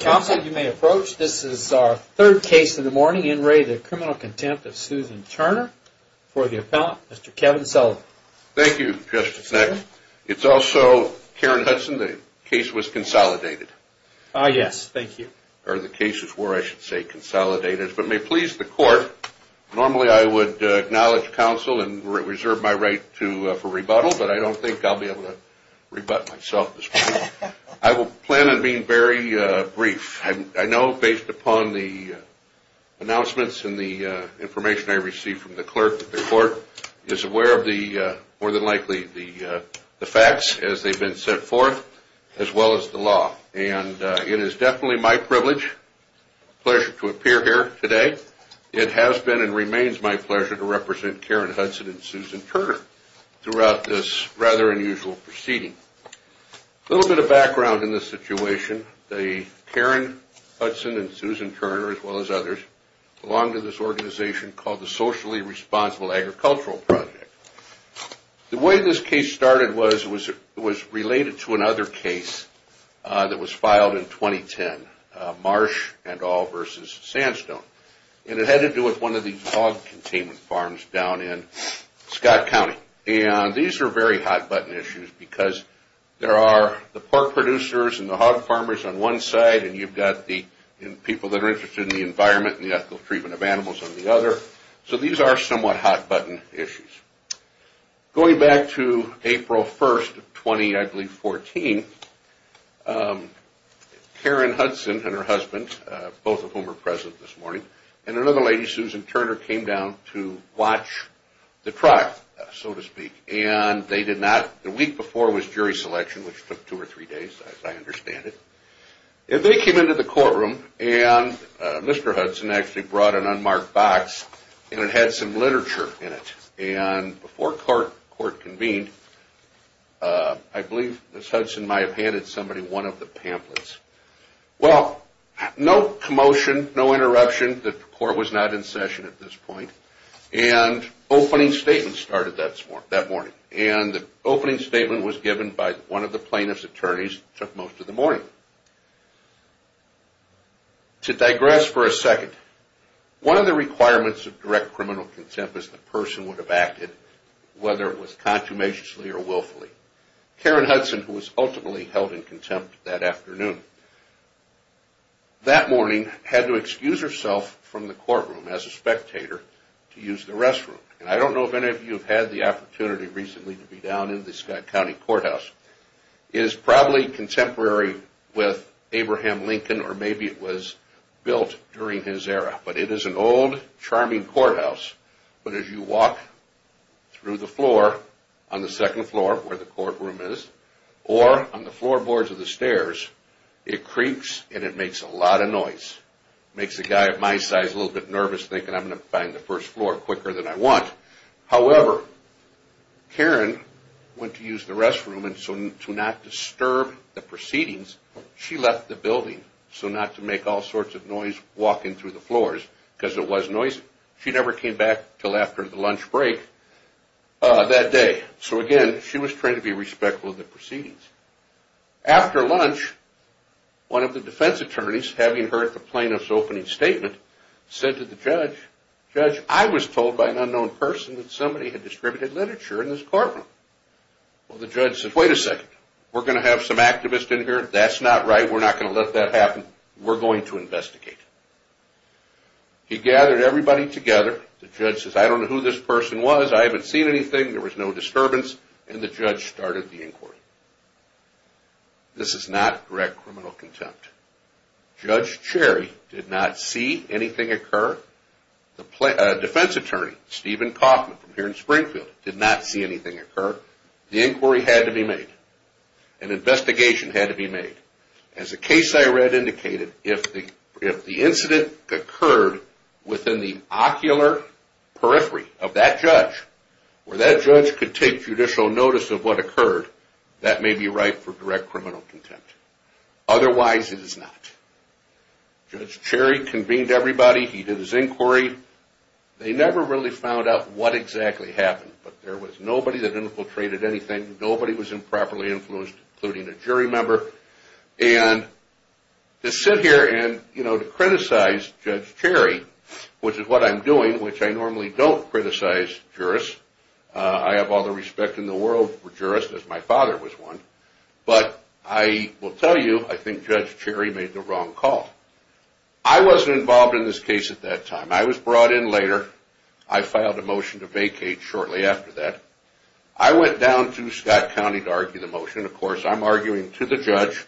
Counsel, you may approach. This is our third case in the morning. In re. The Criminal Contempt of Susan Turner. For the appellant, Mr. Kevin Sullivan. Thank you, Justice Nexon. It's also, Karen Hudson, the case was consolidated. Ah, yes. Thank you. Or the cases were, I should say, consolidated. But may it please the court, normally I would acknowledge counsel and reserve my right for rebuttal, but I don't think I'll be able to rebut myself this morning. I will plan on being very brief. I know based upon the announcements and the information I received from the clerk that the court is aware of the, more than likely, the facts as they've been set forth, as well as the law. And it is definitely my privilege, pleasure to appear here today. It has been and remains my pleasure to represent Karen Hudson and Susan Turner throughout this rather unusual proceeding. A little bit of background in this situation. Karen Hudson and Susan Turner, as well as others, belong to this organization called the Socially Responsible Agricultural Project. The way this case started was related to another case that was filed in 2010, Marsh et al. versus Sandstone. And it had to do with one of these hog containment farms down in Scott County. And these are very hot-button issues because there are the pork producers and the hog farmers on one side and you've got the people that are interested in the environment and the ethical treatment of animals on the other. So these are somewhat hot-button issues. Going back to April 1, 2014, Karen Hudson and her husband, both of whom are present this morning, and another lady, Susan Turner, came down to watch the trial, so to speak. And the week before was jury selection, which took two or three days, as I understand it. And they came into the courtroom and Mr. Hudson actually brought an unmarked box and it had some literature in it. And before court convened, I believe Ms. Hudson might have handed somebody one of the pamphlets. Well, no commotion, no interruption. The court was not in session at this point. And opening statements started that morning. And the opening statement was given by one of the plaintiff's attorneys that took most of the morning. To digress for a second, one of the requirements of direct criminal contempt is the person would have acted, whether it was consummationally or willfully. Karen Hudson, who was ultimately held in contempt that afternoon, that morning had to excuse herself from the courtroom as a spectator to use the restroom. And I don't know if any of you have had the opportunity recently to be down in the Scott County Courthouse. It is probably contemporary with Abraham Lincoln or maybe it was built during his era. But it is an old, charming courthouse. But as you walk through the floor, on the second floor, where the courtroom is, or on the floorboards of the stairs, it creaks and it makes a lot of noise. It makes a guy of my size a little bit nervous thinking I'm going to find the first floor quicker than I want. However, Karen went to use the restroom and so to not disturb the proceedings, she left the building so not to make all sorts of noise walking through the floors because it was noisy. She never came back until after the lunch break that day. So again, she was trained to be respectful of the proceedings. After lunch, one of the defense attorneys, having heard the plaintiff's opening statement, said to the judge, Judge, I was told by an unknown person that somebody had distributed literature in this courtroom. Well, the judge said, wait a second. We're going to have some activist in here? That's not right. We're not going to let that happen. We're going to investigate. He gathered everybody together. The judge says, I don't know who this person was. I haven't seen anything. There was no disturbance. And the judge started the inquiry. This is not direct criminal contempt. Judge Cherry did not see anything occur. The defense attorney, Stephen Kaufman, from here in Springfield, did not see anything occur. The inquiry had to be made. An investigation had to be made. As the case I read indicated, if the incident occurred within the ocular periphery of that judge, where that judge could take judicial notice of what occurred, that may be right for direct criminal contempt. Otherwise, it is not. Judge Cherry convened everybody. He did his inquiry. They never really found out what exactly happened. But there was nobody that infiltrated anything. Nobody was improperly influenced, including a jury member. And to sit here and criticize Judge Cherry, which is what I'm doing, which I normally don't criticize jurists. I have all the respect in the world for jurists, as my father was one. But I will tell you, I think Judge Cherry made the wrong call. I wasn't involved in this case at that time. I was brought in later. I filed a motion to vacate shortly after that. I went down to Scott County to argue the motion. Of course, I'm arguing to the judge.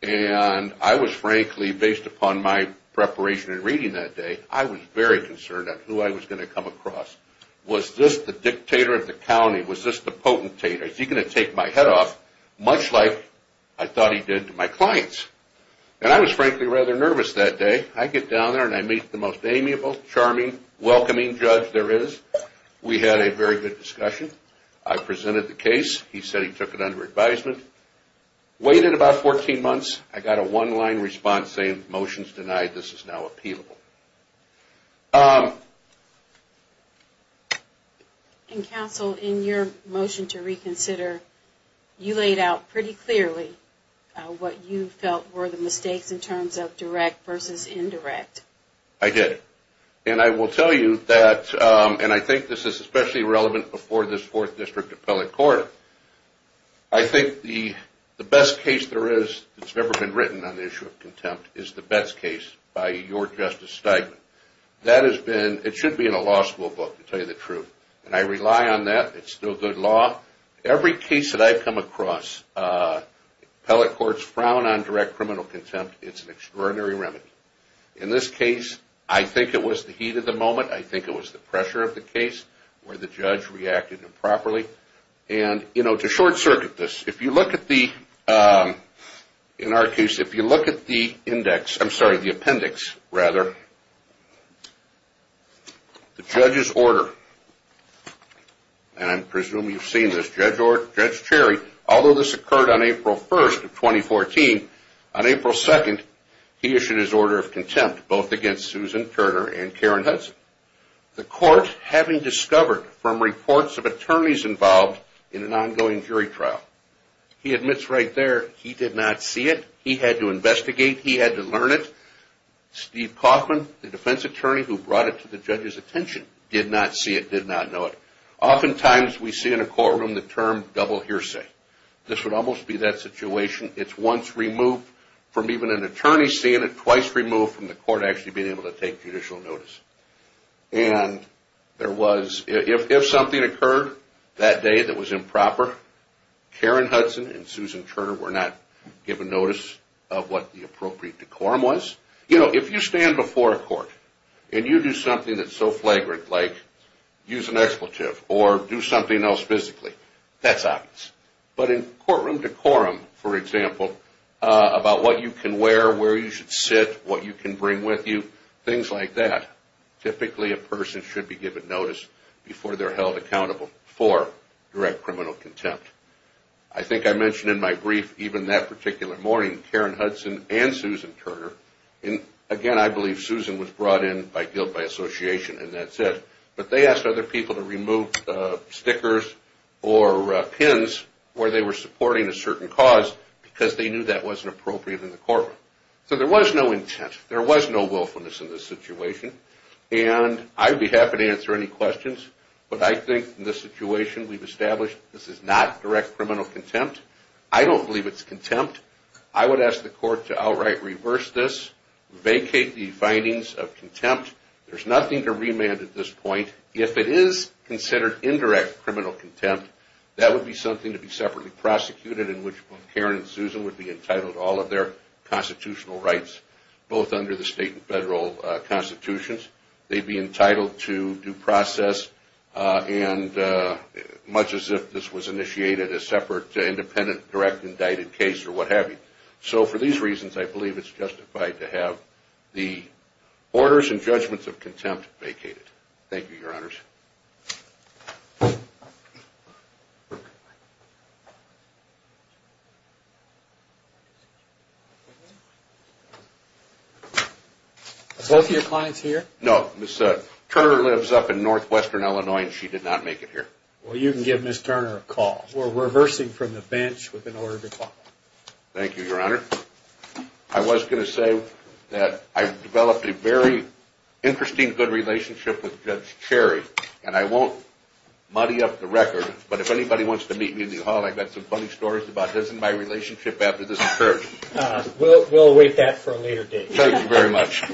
And I was frankly, based upon my preparation and reading that day, I was very concerned on who I was going to come across. Was this the dictator of the county? Was this the potentator? Is he going to take my head off, much like I thought he did to my clients? And I was frankly rather nervous that day. I get down there and I meet the most amiable, charming, welcoming judge there is. We had a very good discussion. I presented the case. He said he took it under advisement. Waited about 14 months. I got a one-line response saying, motion's denied. This is now appealable. And counsel, in your motion to reconsider, you laid out pretty clearly what you felt were the mistakes in terms of direct versus indirect. I did. And I will tell you that, and I think this is especially relevant before this fourth district appellate court, I think the best case there is that's ever been written on the issue of contempt is the Betz case by your Justice Steigman. That has been, it should be in a law school book to tell you the truth. And I rely on that. It's still good law. Every case that I've come across, appellate courts frown on direct criminal contempt. It's an extraordinary remedy. In this case, I think it was the heat of the moment. I think it was the pressure of the case where the judge reacted improperly. And, you know, to short circuit this, if you look at the, in our case, if you look at the index, I'm sorry, the appendix, rather, the judge's order, and I presume you've seen this, Judge Cherry, although this occurred on April 1st of 2014, on April 2nd, he issued his order of contempt, both against Susan Turner and Karen Hudson. The court, having discovered from reports of attorneys involved in an ongoing jury trial, he admits right there he did not see it. He had to investigate. He had to learn it. Steve Kaufman, the defense attorney who brought it to the judge's attention, did not see it, did not know it. Oftentimes we see in a courtroom the term double hearsay. This would almost be that situation. It's once removed from even an attorney seeing it, twice removed from the court actually being able to take judicial notice. And there was, if something occurred that day that was improper, Karen Hudson and Susan Turner were not given notice of what the appropriate decorum was. You know, if you stand before a court and you do something that's so flagrant, like use an expletive or do something else physically, that's obvious. But in courtroom decorum, for example, about what you can wear, where you should sit, what you can bring with you, things like that, typically a person should be given notice before they're held accountable for direct criminal contempt. I think I mentioned in my brief, even that particular morning, Karen Hudson and Susan Turner. Again, I believe Susan was brought in by guilt by association and that's it. But they asked other people to remove stickers or pins where they were supporting a certain cause because they knew that wasn't appropriate in the courtroom. So there was no intent. There was no willfulness in this situation. And I'd be happy to answer any questions. But I think in this situation we've established this is not direct criminal contempt. I don't believe it's contempt. I would ask the court to outright reverse this, vacate the findings of contempt. There's nothing to remand at this point. If it is considered indirect criminal contempt, that would be something to be separately prosecuted in which Karen and Susan would be entitled to all of their constitutional rights, both under the state and federal constitutions. They'd be entitled to due process and much as if this was initiated a separate independent direct indicted case or what have you. So for these reasons, I believe it's justified to have the orders and judgments of contempt vacated. Thank you, Your Honors. Are both of your clients here? No. Ms. Turner lives up in northwestern Illinois and she did not make it here. Well, you can give Ms. Turner a call. We're reversing from the bench with an order to call. Thank you, Your Honor. I was going to say that I've developed a very interesting good relationship with Judge Cherry, and I won't muddy up the record, but if anybody wants to meet me in the hall, I've got some funny stories about this and my relationship after this occurred. We'll await that for a later date. Thank you very much.